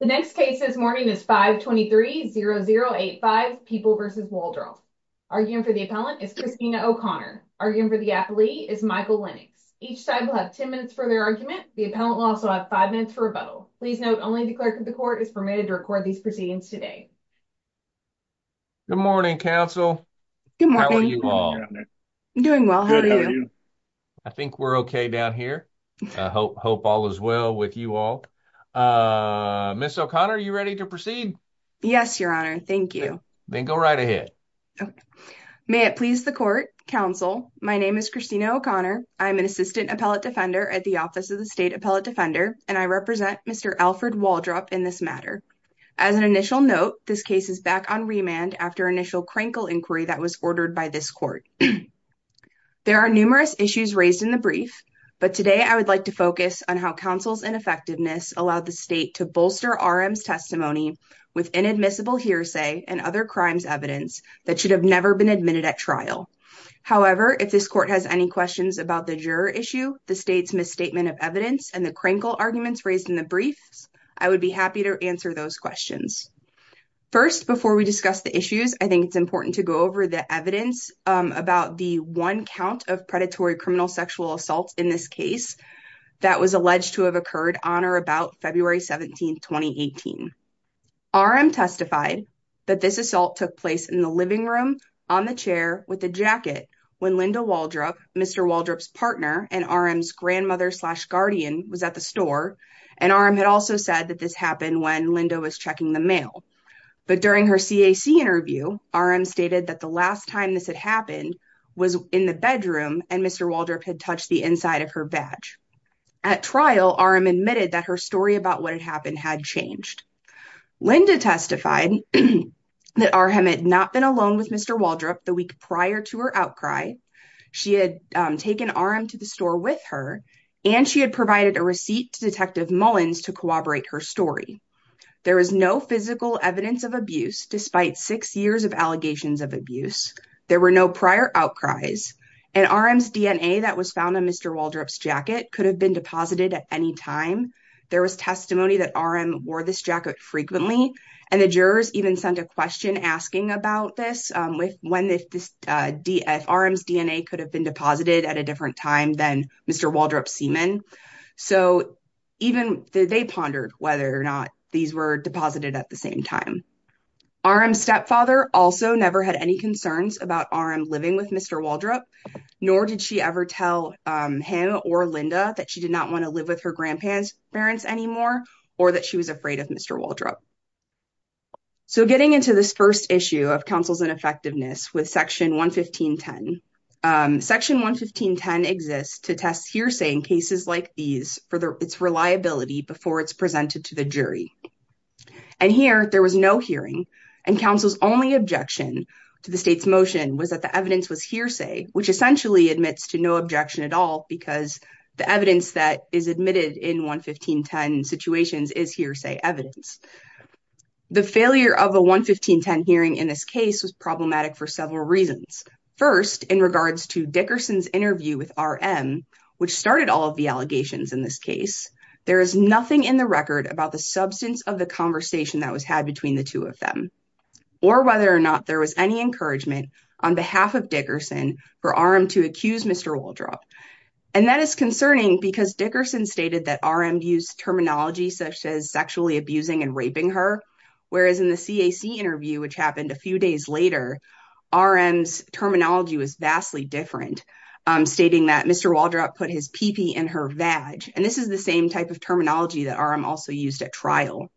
The next case this morning is 523-0085, People v. Waldrop. Arguing for the appellant is Christina O'Connor. Arguing for the appellee is Michael Lennox. Each side will have 10 minutes for their argument. The appellant will also have 5 minutes for rebuttal. Please note, only the clerk of the court is permitted to record these proceedings today. Good morning, counsel. Good morning. How are you all? I'm doing well. How are you? I think we're okay down here. I hope all is well with you all. Ms. O'Connor, are you ready to proceed? Yes, your honor. Thank you. Then go right ahead. May it please the court. Counsel, my name is Christina O'Connor. I'm an assistant appellate defender at the Office of the State Appellate Defender, and I represent Mr. Alfred Waldrop in this matter. As an initial note, this case is back on remand after initial crankle inquiry that was ordered by this court. There are numerous issues raised in the brief, but today I would like to focus on how counsel's ineffectiveness allowed the state to bolster RM's testimony with inadmissible hearsay and other crimes evidence that should have never been admitted at trial. However, if this court has any questions about the juror issue, the state's misstatement of evidence, and the crankle arguments raised in the brief, I would be happy to answer those questions. First, before we discuss the issues, I think it's important to go over the evidence about the one count of predatory criminal sexual assault in this case that was alleged to have occurred on or about February 17, 2018. RM testified that this assault took place in the living room, on the chair, with a jacket, when Linda Waldrop, Mr. Waldrop's partner, and RM's grandmother slash guardian was at the store, and RM had also said that this happened when Linda was checking the mail. But during her CAC interview, RM stated that the last time this had happened was in the bedroom, and Mr. Waldrop had touched the inside of her badge. At trial, RM admitted that her story about what had happened had changed. Linda testified that RM had not been alone with Mr. Waldrop the week prior to her outcry, she had taken RM to the store with her, and she had provided a receipt to Detective Mullins to corroborate her story. There was no physical evidence of abuse, despite six years of allegations of abuse. There were no prior outcries, and RM's DNA that was found on Mr. Waldrop's jacket could have been deposited at any time. There was testimony that RM wore this jacket frequently, and the jurors even sent a question asking about this, when RM's DNA could have been deposited at a different time than Mr. Waldrop's semen. So even they pondered whether or not these were deposited at the same time. RM's stepfather also never had any concerns about RM living with Mr. Waldrop, nor did she ever tell him or Linda that she did not want to live with her grandparents anymore, or that she was afraid of Mr. Waldrop. So getting into this first issue of counsel's ineffectiveness with Section 115.10. Section 115.10 exists to test hearsay in cases like these for its reliability before it's presented to the jury. And here, there was no hearing, and counsel's only objection to the state's motion was that the evidence was hearsay, which essentially admits to no objection at all, because the evidence that is admitted in 115.10 situations is hearsay evidence. The failure of a 115.10 hearing in this case was problematic for several reasons. First, in regards to Dickerson's interview with RM, which started all of the allegations in this case, there is nothing in the record about the substance of the conversation that was had between the two of them, or whether or not there was any encouragement on behalf of Dickerson for RM to accuse Mr. Waldrop. And that is concerning because Dickerson stated that RM used terminology such as sexually abusing and raping her, whereas in the CAC interview, which happened a few days later, RM's terminology was vastly different, stating that Mr. Waldrop put his pee-pee in her vag. And this is the same type of terminology that RM also used at trial.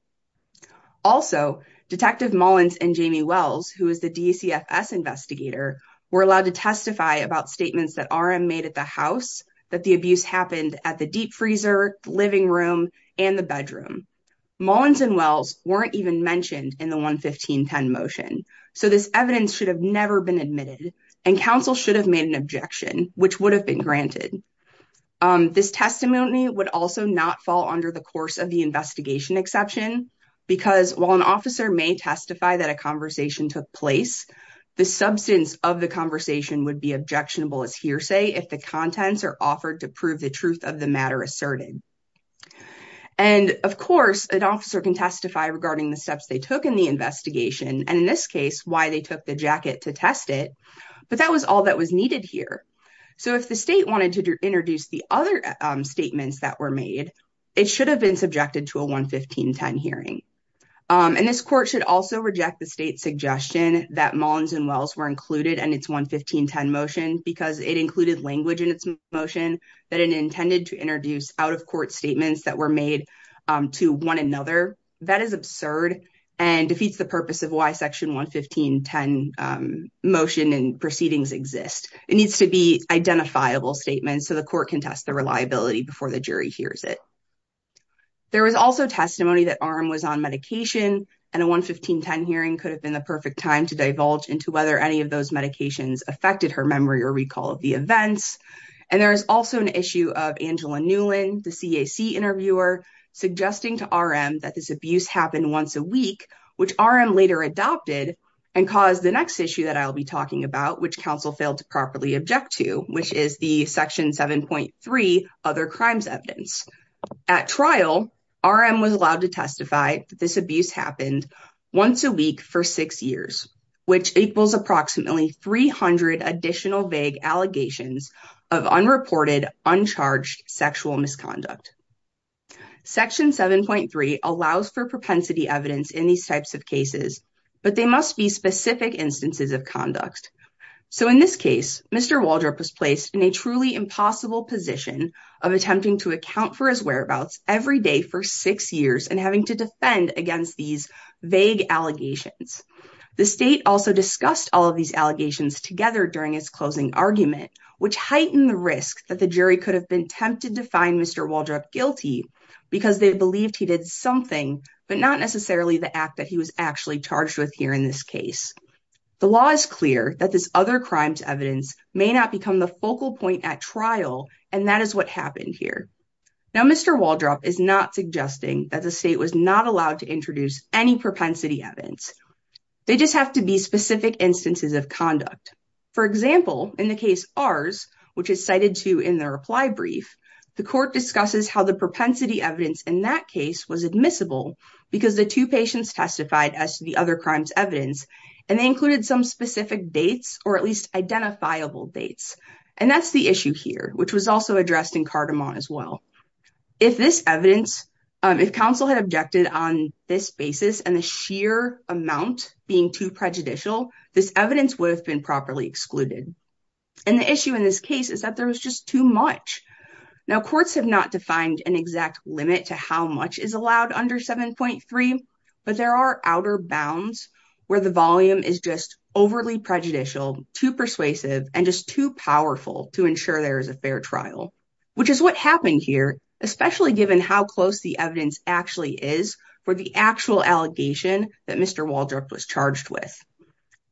Also, Detective Mullins and Jamie Wells, who is the DCFS investigator, were allowed to testify about statements that RM made at the house, that the abuse happened at the deep freezer, living room, and the bedroom. Mullins and Wells weren't even mentioned in the 115.10 motion, so this evidence should have never been admitted, and counsel should have made an objection, which would have been granted. This testimony would also not fall under the course of the investigation exception, because while an officer may testify that a conversation took place, the substance of the conversation would be objectionable as hearsay if the contents are offered to prove the truth of the matter asserted. And, of course, an officer can testify regarding the steps they took in the investigation, and in this case, why they took the jacket to test it, but that was all that was needed here. So if the state wanted to introduce the other statements that were made, it should have been subjected to a 115.10 hearing. And this court should also reject the state's suggestion that Mullins and Wells were included in its 115.10 motion, because it included language in its motion that it intended to introduce out-of-court statements that were made to one another. That is absurd and defeats the purpose of why Section 115.10 motion and proceedings exist. It needs to be identifiable statements so the court can test the reliability before the jury hears it. There was also testimony that RM was on medication, and a 115.10 hearing could have been the perfect time to divulge into whether any of those medications affected her memory or recall of the events. And there is also an issue of Angela Newlin, the CAC interviewer, suggesting to RM that this abuse happened once a week, which RM later adopted and caused the next issue that I'll be talking about, which counsel failed to properly object to, which is the Section 7.3 Other Crimes Evidence. At trial, RM was allowed to testify that this abuse happened once a week for six years, which equals approximately 300 additional vague allegations of unreported, uncharged sexual misconduct. Section 7.3 allows for propensity evidence in these types of cases, but they must be specific instances of conduct. So in this case, Mr. Waldrop was placed in a truly impossible position of attempting to account for his whereabouts every day for six years and having to defend against these vague allegations. The state also discussed all of these allegations together during his closing argument, which heightened the risk that the jury could have been tempted to find Mr. Waldrop guilty because they believed he did something, but not necessarily the act that he was actually charged with here in this case. The law is clear that this Other Crimes Evidence may not become the focal point at trial, and that is what happened here. Now, Mr. Waldrop is not suggesting that the state was not allowed to introduce any propensity evidence. They just have to be specific instances of conduct. For example, in the case Ars, which is cited too in the reply brief, the court discusses how the propensity evidence in that case was admissible because the two patients testified as to the Other Crimes Evidence, and they included some specific dates or at least identifiable dates. And that's the issue here, which was also addressed in Cardamon as well. If this evidence, if counsel had objected on this basis and the sheer amount being too prejudicial, this evidence would have been properly excluded. And the issue in this case is that there was just too much. Now, courts have not defined an exact limit to how much is allowed under 7.3, but there are outer bounds where the volume is just overly prejudicial, too persuasive, and just too powerful to ensure there is a fair trial, which is what happened here, especially given how close the evidence actually is for the actual allegation that Mr. Waldrop was charged with.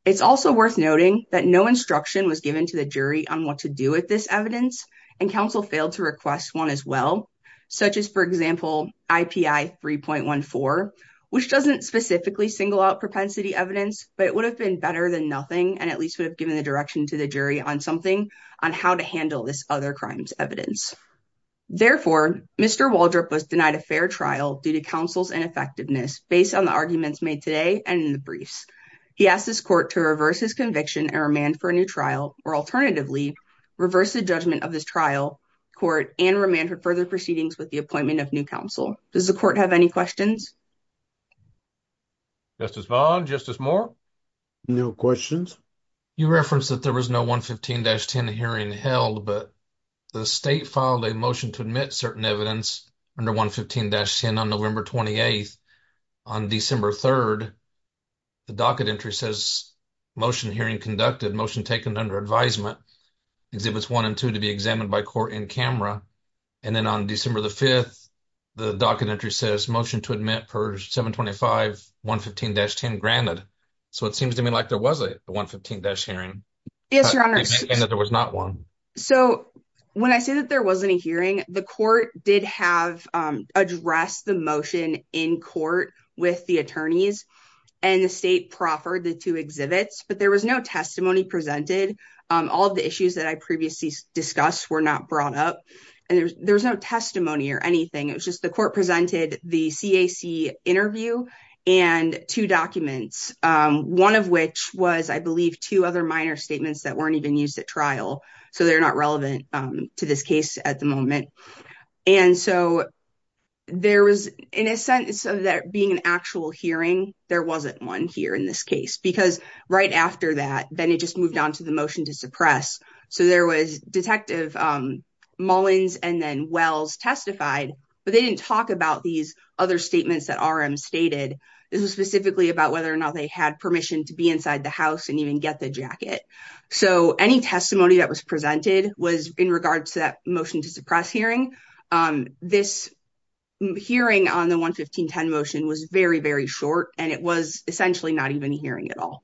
It's also worth noting that no instruction was given to the jury on what to do with this evidence, and counsel failed to request one as well, such as, for example, IPI 3.14, which doesn't specifically single out propensity evidence, but it would have been better than nothing and at least would have given the direction to the jury on something on how to handle this Other Crimes Evidence. Therefore, Mr. Waldrop was denied a fair trial due to counsel's ineffectiveness based on the arguments made today and in the briefs. I ask this court to reverse his conviction and remand for a new trial, or alternatively, reverse the judgment of this trial, court, and remand for further proceedings with the appointment of new counsel. Does the court have any questions? Justice Vaughn? Justice Moore? No questions. You referenced that there was no 115-10 hearing held, but the state filed a motion to admit certain evidence under 115-10 on November 28th. On December 3rd, the docket entry says motion hearing conducted, motion taken under advisement, Exhibits 1 and 2 to be examined by court in camera. And then on December 5th, the docket entry says motion to admit per 725-115-10 granted. So, it seems to me like there was a 115-10 hearing. Yes, Your Honor. So, when I say that there wasn't a hearing, the court did have addressed the motion in court with the attorneys and the state proffered the two exhibits, but there was no testimony presented. All of the issues that I previously discussed were not brought up, and there was no testimony or anything. It was just the court presented the CAC interview and two documents, one of which was, I believe, two other minor statements that weren't even used at trial, so they're not relevant to this case at the moment. And so, there was, in a sense of that being an actual hearing, there wasn't one here in this case, because right after that, then it just moved on to the motion to suppress. So, there was Detective Mullins and then Wells testified, but they didn't talk about these other statements that RM stated. This was specifically about whether or not they had permission to be inside the house and even get the jacket. So, any testimony that was presented was in regards to that motion to suppress hearing. This hearing on the 115-10 motion was very, very short, and it was essentially not even hearing at all.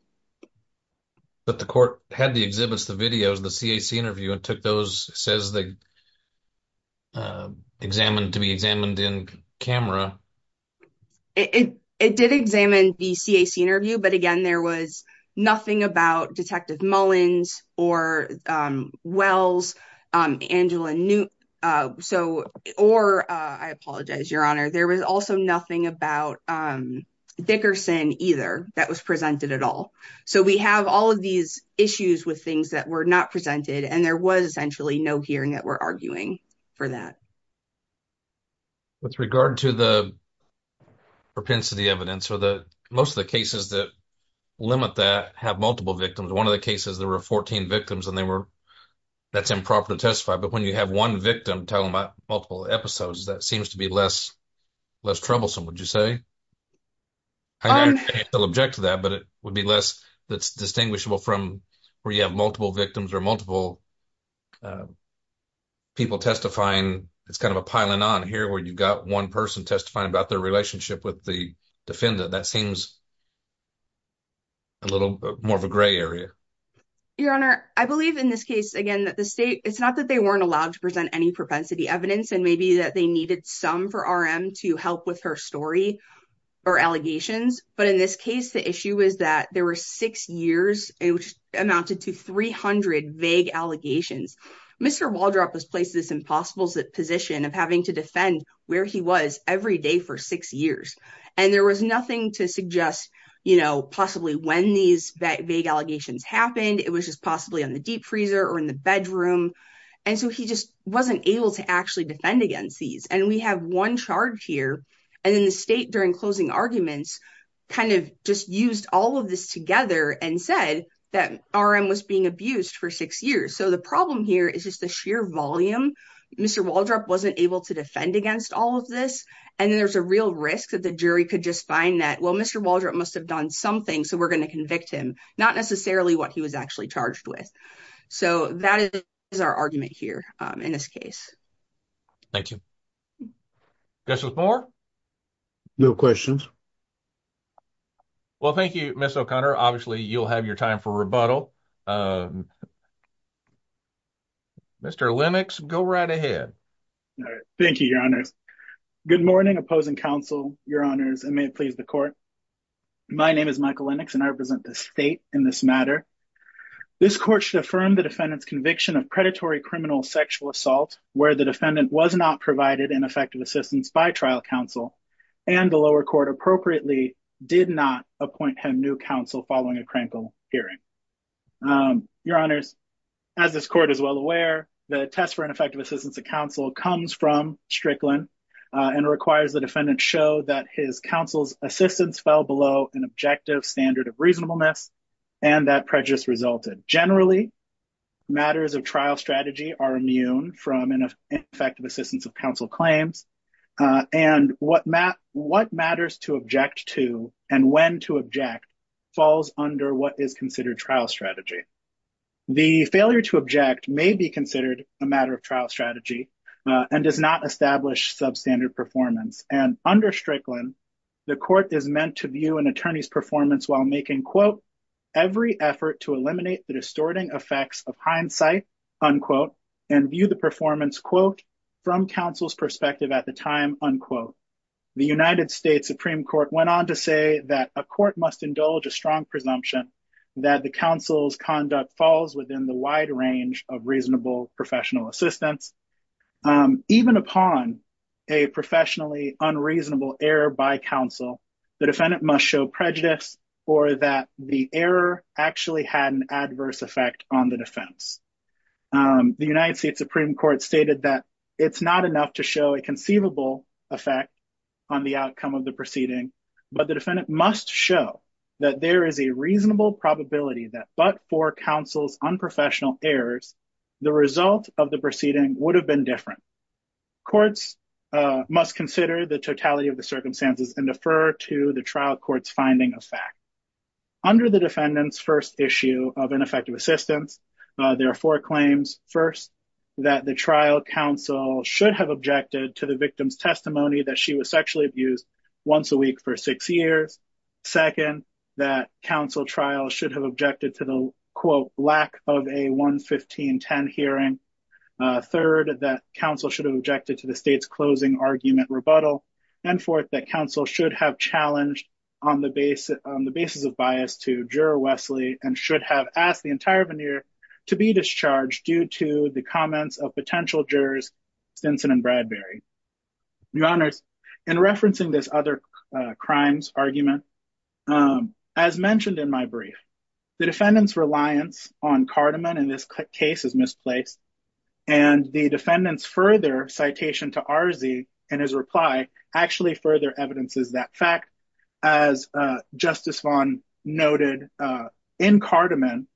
But the court had the exhibits, the videos, the CAC interview, and took those, says they examined to be examined in camera. It did examine the CAC interview, but again, there was nothing about Detective Mullins or Wells, Angela Newt, or, I apologize, Your Honor, there was also nothing about Dickerson either that was presented at all. So, we have all of these issues with things that were not presented, and there was essentially no hearing that were arguing for that. With regard to the propensity evidence, most of the cases that limit that have multiple victims. One of the cases, there were 14 victims, and that's improper to testify, but when you have one victim telling multiple episodes, that seems to be less troublesome, would you say? I don't object to that, but it would be less that's distinguishable from where you have multiple victims or multiple people testifying. It's kind of a piling on here where you've got one person testifying about their relationship with the defendant. That seems a little more of a gray area. Your Honor, I believe in this case, again, that the state, it's not that they weren't allowed to present any propensity evidence, and maybe that they needed some for RM to help with her story or allegations. But in this case, the issue is that there were six years, which amounted to 300 vague allegations. Mr. Waldrop was placed in this impossible position of having to defend where he was every day for six years, and there was nothing to suggest possibly when these vague allegations happened. It was just possibly on the deep freezer or in the bedroom, and so he just wasn't able to actually defend against these, and we have one charge here. And then the state, during closing arguments, kind of just used all of this together and said that RM was being abused for six years. The problem here is just the sheer volume. Mr. Waldrop wasn't able to defend against all of this. And then there's a real risk that the jury could just find that, well, Mr. Waldrop must have done something, so we're going to convict him, not necessarily what he was actually charged with. So that is our argument here in this case. Thank you. Justice Moore? No questions. Well, thank you, Ms. O'Connor. Obviously, you'll have your time for rebuttal. Mr. Lennox, go right ahead. Thank you, Your Honors. Good morning, opposing counsel, Your Honors, and may it please the court. My name is Michael Lennox, and I represent the state in this matter. This court should affirm the defendant's conviction of predatory criminal sexual assault where the defendant was not provided in effective assistance by trial counsel, and the lower court appropriately did not appoint him new counsel following a crankle hearing. Your Honors, as this court is well aware, the test for ineffective assistance of counsel comes from Strickland and requires the defendant show that his counsel's assistance fell below an objective standard of reasonableness and that prejudice resulted. Generally, matters of trial strategy are immune from ineffective assistance of counsel claims, and what matters to object to and when to object falls under what is considered trial strategy. The failure to object may be considered a matter of trial strategy and does not establish substandard performance, and under Strickland, the court is meant to view an attorney's performance while making, quote, to eliminate the distorting effects of hindsight, unquote, and view the performance, quote, from counsel's perspective at the time, unquote. The United States Supreme Court went on to say that a court must indulge a strong presumption that the counsel's conduct falls within the wide range of reasonable professional assistance. Even upon a professionally unreasonable error by counsel, the defendant must show prejudice or that the error actually had an adverse effect on the defense. The United States Supreme Court stated that it's not enough to show a conceivable effect on the outcome of the proceeding, but the defendant must show that there is a reasonable probability that but for counsel's unprofessional errors, the result of the proceeding would have been different. Courts must consider the totality of the circumstances and defer to the trial court's finding of fact. Under the defendant's first issue of ineffective assistance, there are four claims. First, that the trial counsel should have objected to the victim's testimony that she was sexually abused once a week for six years. Second, that counsel trial should have objected to the, quote, lack of a 11510 hearing. Third, that counsel should have objected to the state's closing argument rebuttal. And fourth, that counsel should have challenged on the basis of bias to juror Wesley and should have asked the entire veneer to be discharged due to the comments of potential jurors Stinson and Bradbury. Your honors, in referencing this other crimes argument, as mentioned in my brief, the defendant's reliance on Cardamon in this case is misplaced. And the defendant's further citation to Arzee in his reply actually further evidences that fact. As Justice Vaughn noted, in Cardamon,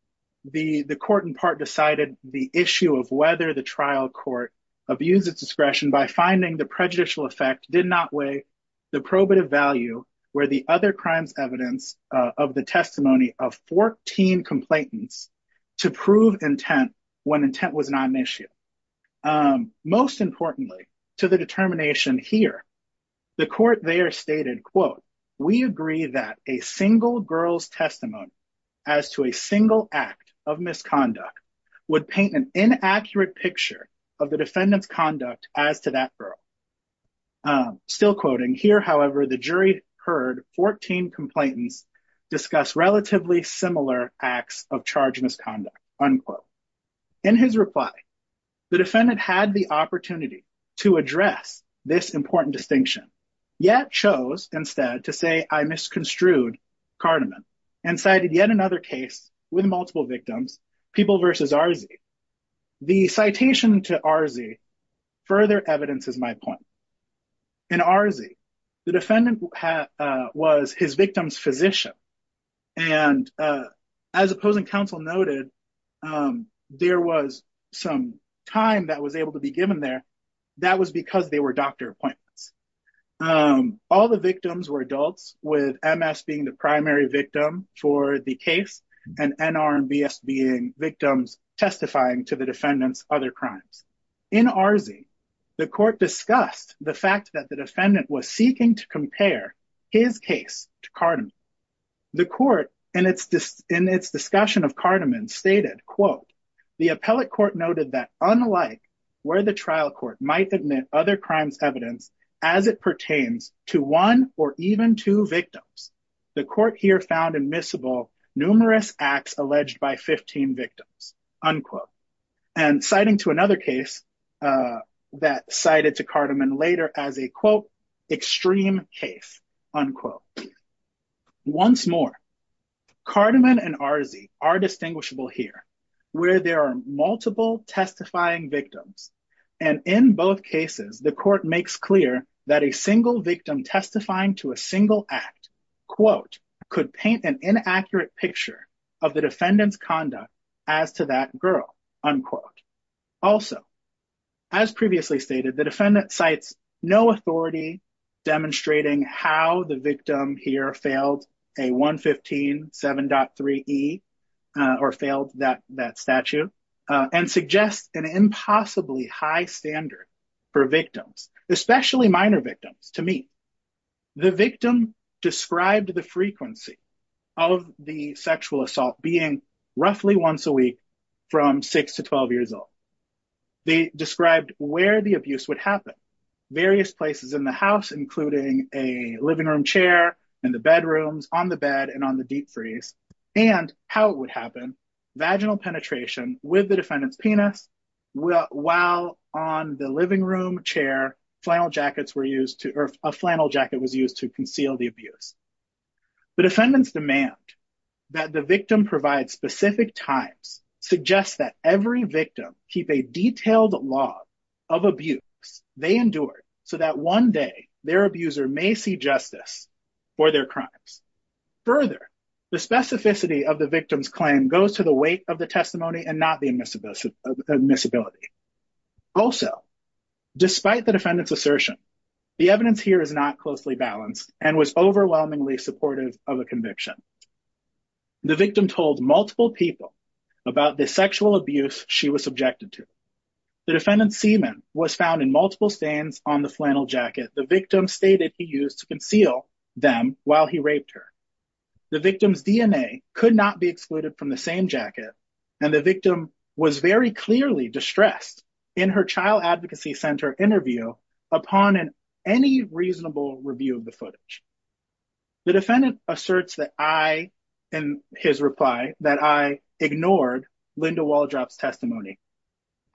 the court in part decided the issue of whether the trial court abused its discretion by finding the prejudicial effect did not weigh the probative value where the other crimes evidence of the testimony of 14 complainants to prove intent when intent was not an issue. Most importantly, to the determination here, the court there stated, quote, we agree that a single girl's testimony as to a single act of misconduct would paint an inaccurate picture of the defendant's conduct as to that girl. Still quoting here, however, the jury heard 14 complainants discuss relatively similar acts of charge misconduct, unquote. In his reply, the defendant had the opportunity to address this important distinction, yet chose instead to say I misconstrued Cardamon and cited yet another case with multiple victims, people versus Arzee. The citation to Arzee further evidences my point. In Arzee, the defendant was his victim's physician. And as opposing counsel noted, there was some time that was able to be given there. That was because they were doctor appointments. All the victims were adults with MS being the primary victim for the case and NRBS being victims testifying to the defendant's other crimes. In Arzee, the court discussed the fact that the defendant was seeking to compare his case to Cardamon. The court in its discussion of Cardamon stated, quote, the appellate court noted that unlike where the trial court might admit other crimes evidence as it pertains to one or even two victims, the court here found admissible numerous acts alleged by 15 victims, unquote. And citing to another case that cited to Cardamon later as a, quote, extreme case, unquote. Once more, Cardamon and Arzee are distinguishable here where there are multiple testifying victims. And in both cases, the court makes clear that a single victim testifying to a single act, quote, could paint an inaccurate picture of the defendant's conduct as to that girl, unquote. Also, as previously stated, the defendant cites no authority demonstrating how the victim here failed a 115 7.3 E or failed that statue and suggests an impossibly high standard for victims, especially minor victims, to me. The victim described the frequency of the sexual assault being roughly once a week from 6 to 12 years old. They described where the abuse would happen. Various places in the house, including a living room chair and the bedrooms on the bed and on the deep freeze and how it would happen. Vaginal penetration with the defendant's penis while on the living room chair. A flannel jacket was used to conceal the abuse. The defendant's demand that the victim provide specific times suggests that every victim keep a detailed log of abuse they endured so that one day their abuser may see justice for their crimes. Further, the specificity of the victim's claim goes to the weight of the testimony and not the admissibility. Also, despite the defendant's assertion, the evidence here is not closely balanced and was overwhelmingly supportive of a conviction. The victim told multiple people about the sexual abuse she was subjected to. The defendant's semen was found in multiple stains on the flannel jacket the victim stated he used to conceal them while he raped her. The victim's DNA could not be excluded from the same jacket and the victim was very clearly distressed in her Child Advocacy Center interview upon any reasonable review of the footage. The defendant asserts that I, in his reply, that I ignored Linda Walldrop's testimony.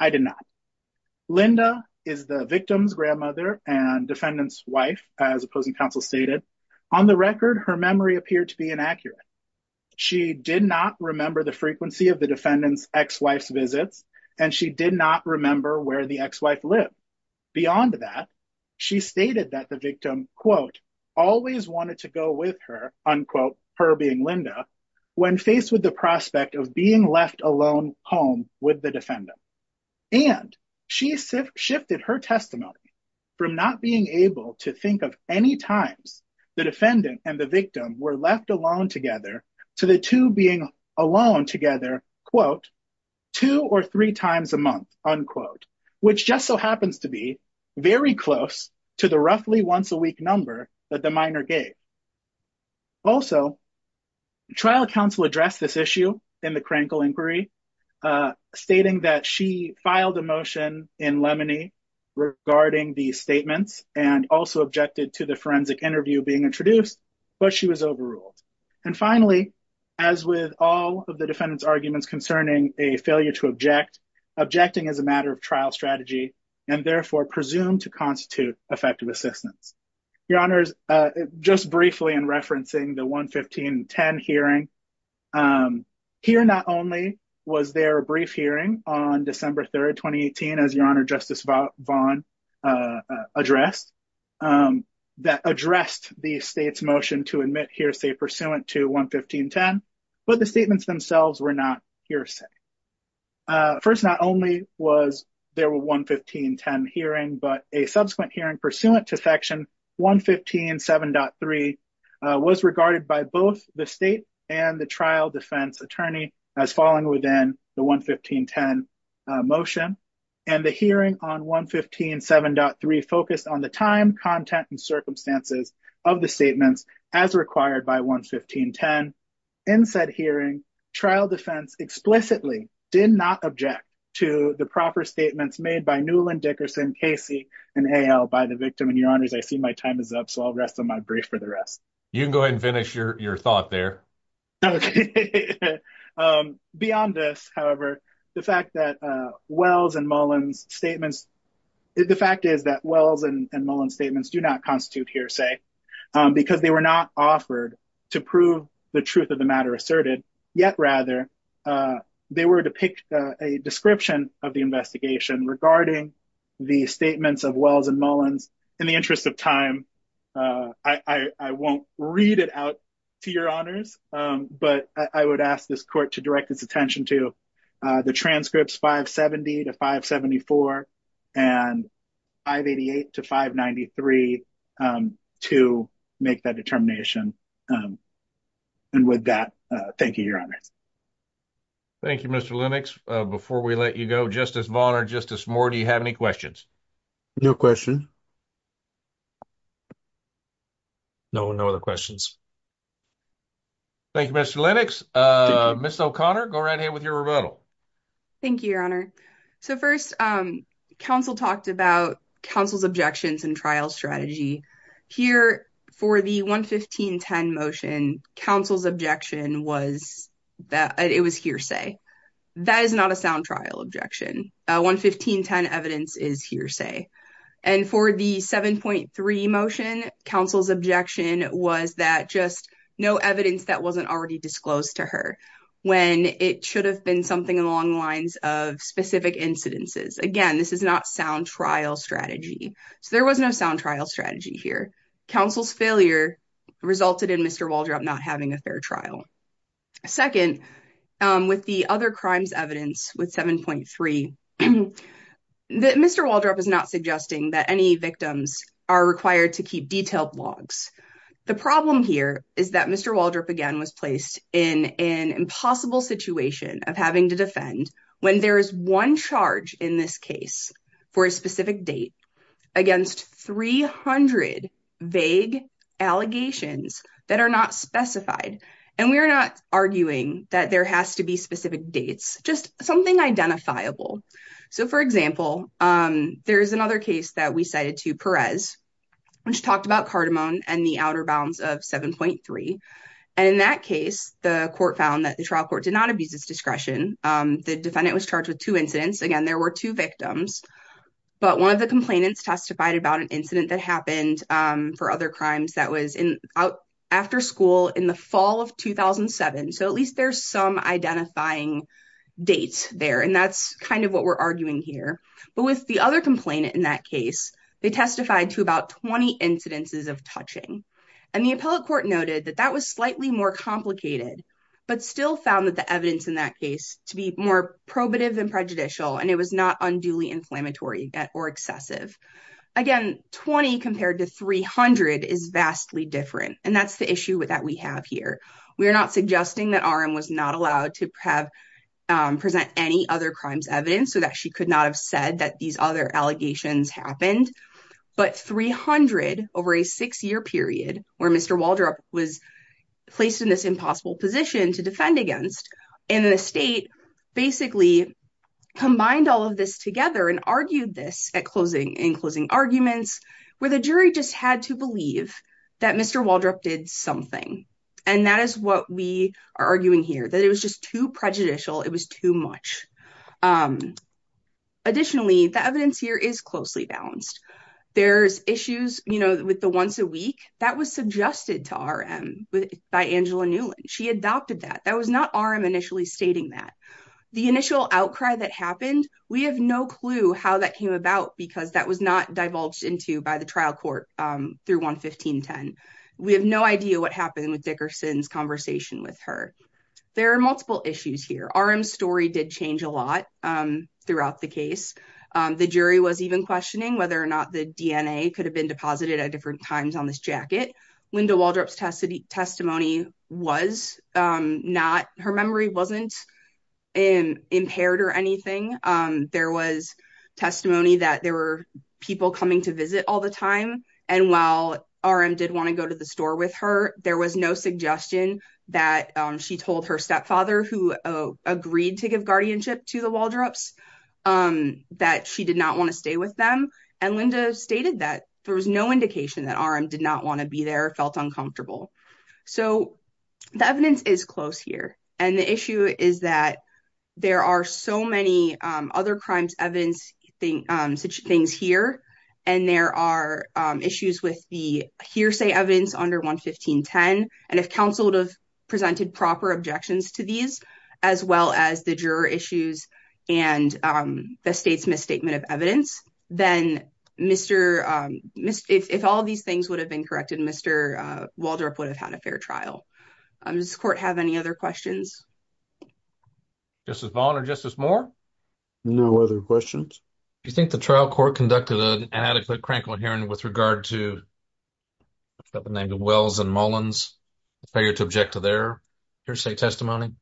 I did not. Linda is the victim's grandmother and defendant's wife, as opposing counsel stated. On the record, her memory appeared to be inaccurate. She did not remember the frequency of the defendant's ex-wife's visits and she did not remember where the ex-wife lived. Beyond that, she stated that the victim quote, always wanted to go with her, unquote, her being Linda, when faced with the prospect of being left alone home with the defendant. And she shifted her testimony from not being able to think of any times the defendant and the victim were left alone together to the two being alone together, quote, two or three times a month, unquote, which just so happens to be very close to the roughly once a week number that the minor gave. Also, trial counsel addressed this issue in the Krankel inquiry, stating that she filed a motion in Lemony regarding these statements and also objected to the forensic interview being introduced, but she was overruled. Finally, as with all of the defendant's arguments concerning a failure to object, objecting is a matter of trial strategy and therefore presumed to constitute effective assistance. Your honors, just briefly in referencing the 1-15-10 hearing, here not only was there a brief hearing on December 3rd, 2018, as your honor Justice Vaughn addressed, that addressed the state's motion to admit hearsay pursuant to 1-15-10, but the statements themselves were not hearsay. First, not only was there a 1-15-10 hearing, but a subsequent hearing pursuant to section 1-15-7.3 was regarded by both the state and the trial defense attorney as falling within the 1-15-10 motion and the hearing on 1-15-7.3 focused on the time, content, and circumstances of the statements as required by 1-15-10. In said hearing, trial defense explicitly did not object to the proper statements made by Newland, Dickerson, Casey, and Hale by the victim, and your honors, I see my time is up, so I'll rest on my brief for the rest. You can go ahead and finish your thought there. Okay. Beyond this, however, the fact that Wells and Mullen's statements, the fact is that Wells and Mullen's statements do not constitute hearsay because they were not offered to prove the truth of the matter asserted, yet rather, they were to pick a description of the investigation regarding the statements of Wells and Mullen's. In the interest of time, I won't read it out to your honors, but I would ask this court to direct its attention to the transcripts 570 to 574 and 588 to 593 to make that determination. And with that, thank you, your honors. Thank you, Mr. Lennox. Before we let you go, Justice Vaughn or Justice Moore, do you have any questions? No question. No, no other questions. Thank you, Mr. Lennox. Ms. O'Connor, go right ahead with your rebuttal. Thank you, your honor. So first, counsel talked about counsel's objections and trial strategy. Here, for the 115.10 motion, counsel's objection was that it was hearsay. That is not a sound trial objection. 115.10 evidence is hearsay. And for the 7.3 motion, counsel's objection was that just no evidence that wasn't already disclosed to her when it should have been something along the lines of specific incidences. Again, this is not sound trial strategy. So there was no sound trial strategy here. Counsel's failure resulted in Mr. Waldrop not having a fair trial. Second, with the other crimes evidence with 7.3, Mr. Waldrop is not suggesting that any victims are required to keep detailed logs. The problem here is that Mr. Waldrop, again, was placed in an impossible situation to defend when there is one charge in this case for a specific date against 300 vague allegations that are not specified. And we are not arguing that there has to be specific dates, just something identifiable. So, for example, there's another case that we cited to Perez, which talked about cardamom and the outer bounds of 7.3. And in that case, the court found that the trial court did not abuse its discretion. The defendant was charged with two incidents. Again, there were two victims. But one of the complainants testified about an incident that happened for other crimes that was after school in the fall of 2007. So at least there's some identifying dates there. And that's kind of what we're arguing here. But with the other complainant in that case, they testified to about 20 incidences of touching. And the appellate court noted that that was slightly more complicated, but still found that the evidence in that case to be more probative than prejudicial, and it was not unduly inflammatory or excessive. Again, 20 compared to 300 is vastly different. And that's the issue that we have here. We are not suggesting that RM was not allowed to present any other crimes evidence so that she could not have said that these other allegations happened. But 300 over a six-year period where Mr. Waldrop was placed in this impossible position to defend against, and the state basically combined all of this together and argued this in closing arguments, where the jury just had to believe that Mr. Waldrop did something. And that is what we are arguing here, that it was just too prejudicial. It was too much. Additionally, the evidence here is closely balanced. There's issues with the once a week. That was suggested to RM by Angela Newland. She adopted that. That was not RM initially stating that. The initial outcry that happened, we have no clue how that came about because that was not divulged into by the trial court through 11510. We have no idea what happened with Dickerson's conversation with her. There are multiple issues here. RM's story did change a lot throughout the case. The jury was even questioning whether or not the DNA could have been deposited at different times on this jacket. Linda Waldrop's testimony was not, her memory wasn't impaired or anything. There was testimony that there were people coming to visit all the time. And while RM did want to go to the store with her, there was no suggestion that she told her stepfather who agreed to give guardianship to the Waldrops that she did not want to stay with them. And Linda stated that there was no indication that RM did not want to be there, felt uncomfortable. So the evidence is close here. And the issue is that there are so many other crimes evidence things here. And there are issues with the hearsay evidence under 11510. And if counsel would have presented proper objections to these, as well as the juror issues and the state's misstatement of evidence, then if all of these things would have been corrected, Mr. Waldrop would have had a fair trial. Does the court have any other questions? Justice Vaughn or Justice Moore? No other questions. Do you think the trial court conducted an adequate crankle hearing with regard to Wells and Mullins, failure to object to their hearsay testimony?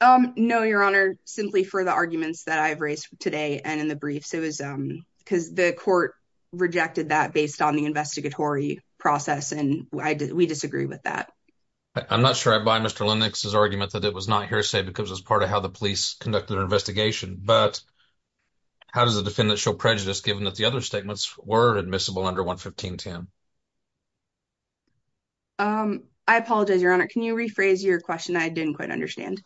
No, Your Honor, simply for the arguments that I've raised today and in the briefs. Because the court rejected that based on the investigatory process. And we disagree with that. I'm not sure I buy Mr. Lennox's argument that it was not hearsay because it was part of how the police conducted their investigation. But how does the defendant show prejudice given that the other statements were admissible under 11510? I apologize, Your Honor. Can you rephrase your question? I didn't quite understand.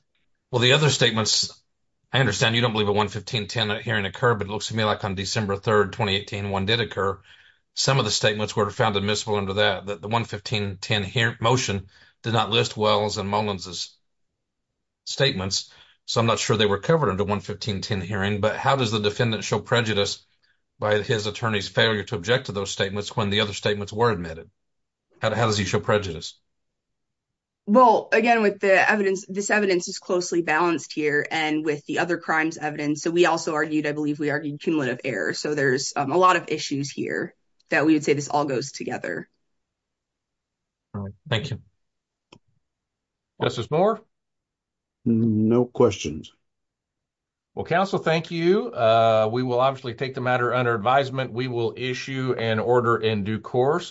Well, the other statements, I understand you don't believe that 11510 hearing occurred, but it looks to me like on December 3rd, 2018, one did occur. Some of the statements were found admissible under that, that the 11510 motion did not list Wells and Mullins' statements. So I'm not sure they were covered under 11510 hearing. But how does the defendant show prejudice by his attorney's failure to object to those statements when the other statements were admitted? How does he show prejudice? Well, again, with the evidence, this evidence is closely balanced here and with the other crimes evidence. So we also argued, I believe, we argued cumulative error. So there's a lot of issues here that we would say this all goes together. Thank you. Justice Moore? No questions. Well, counsel, thank you. We will obviously take the matter under advisement. We will issue an order in due course.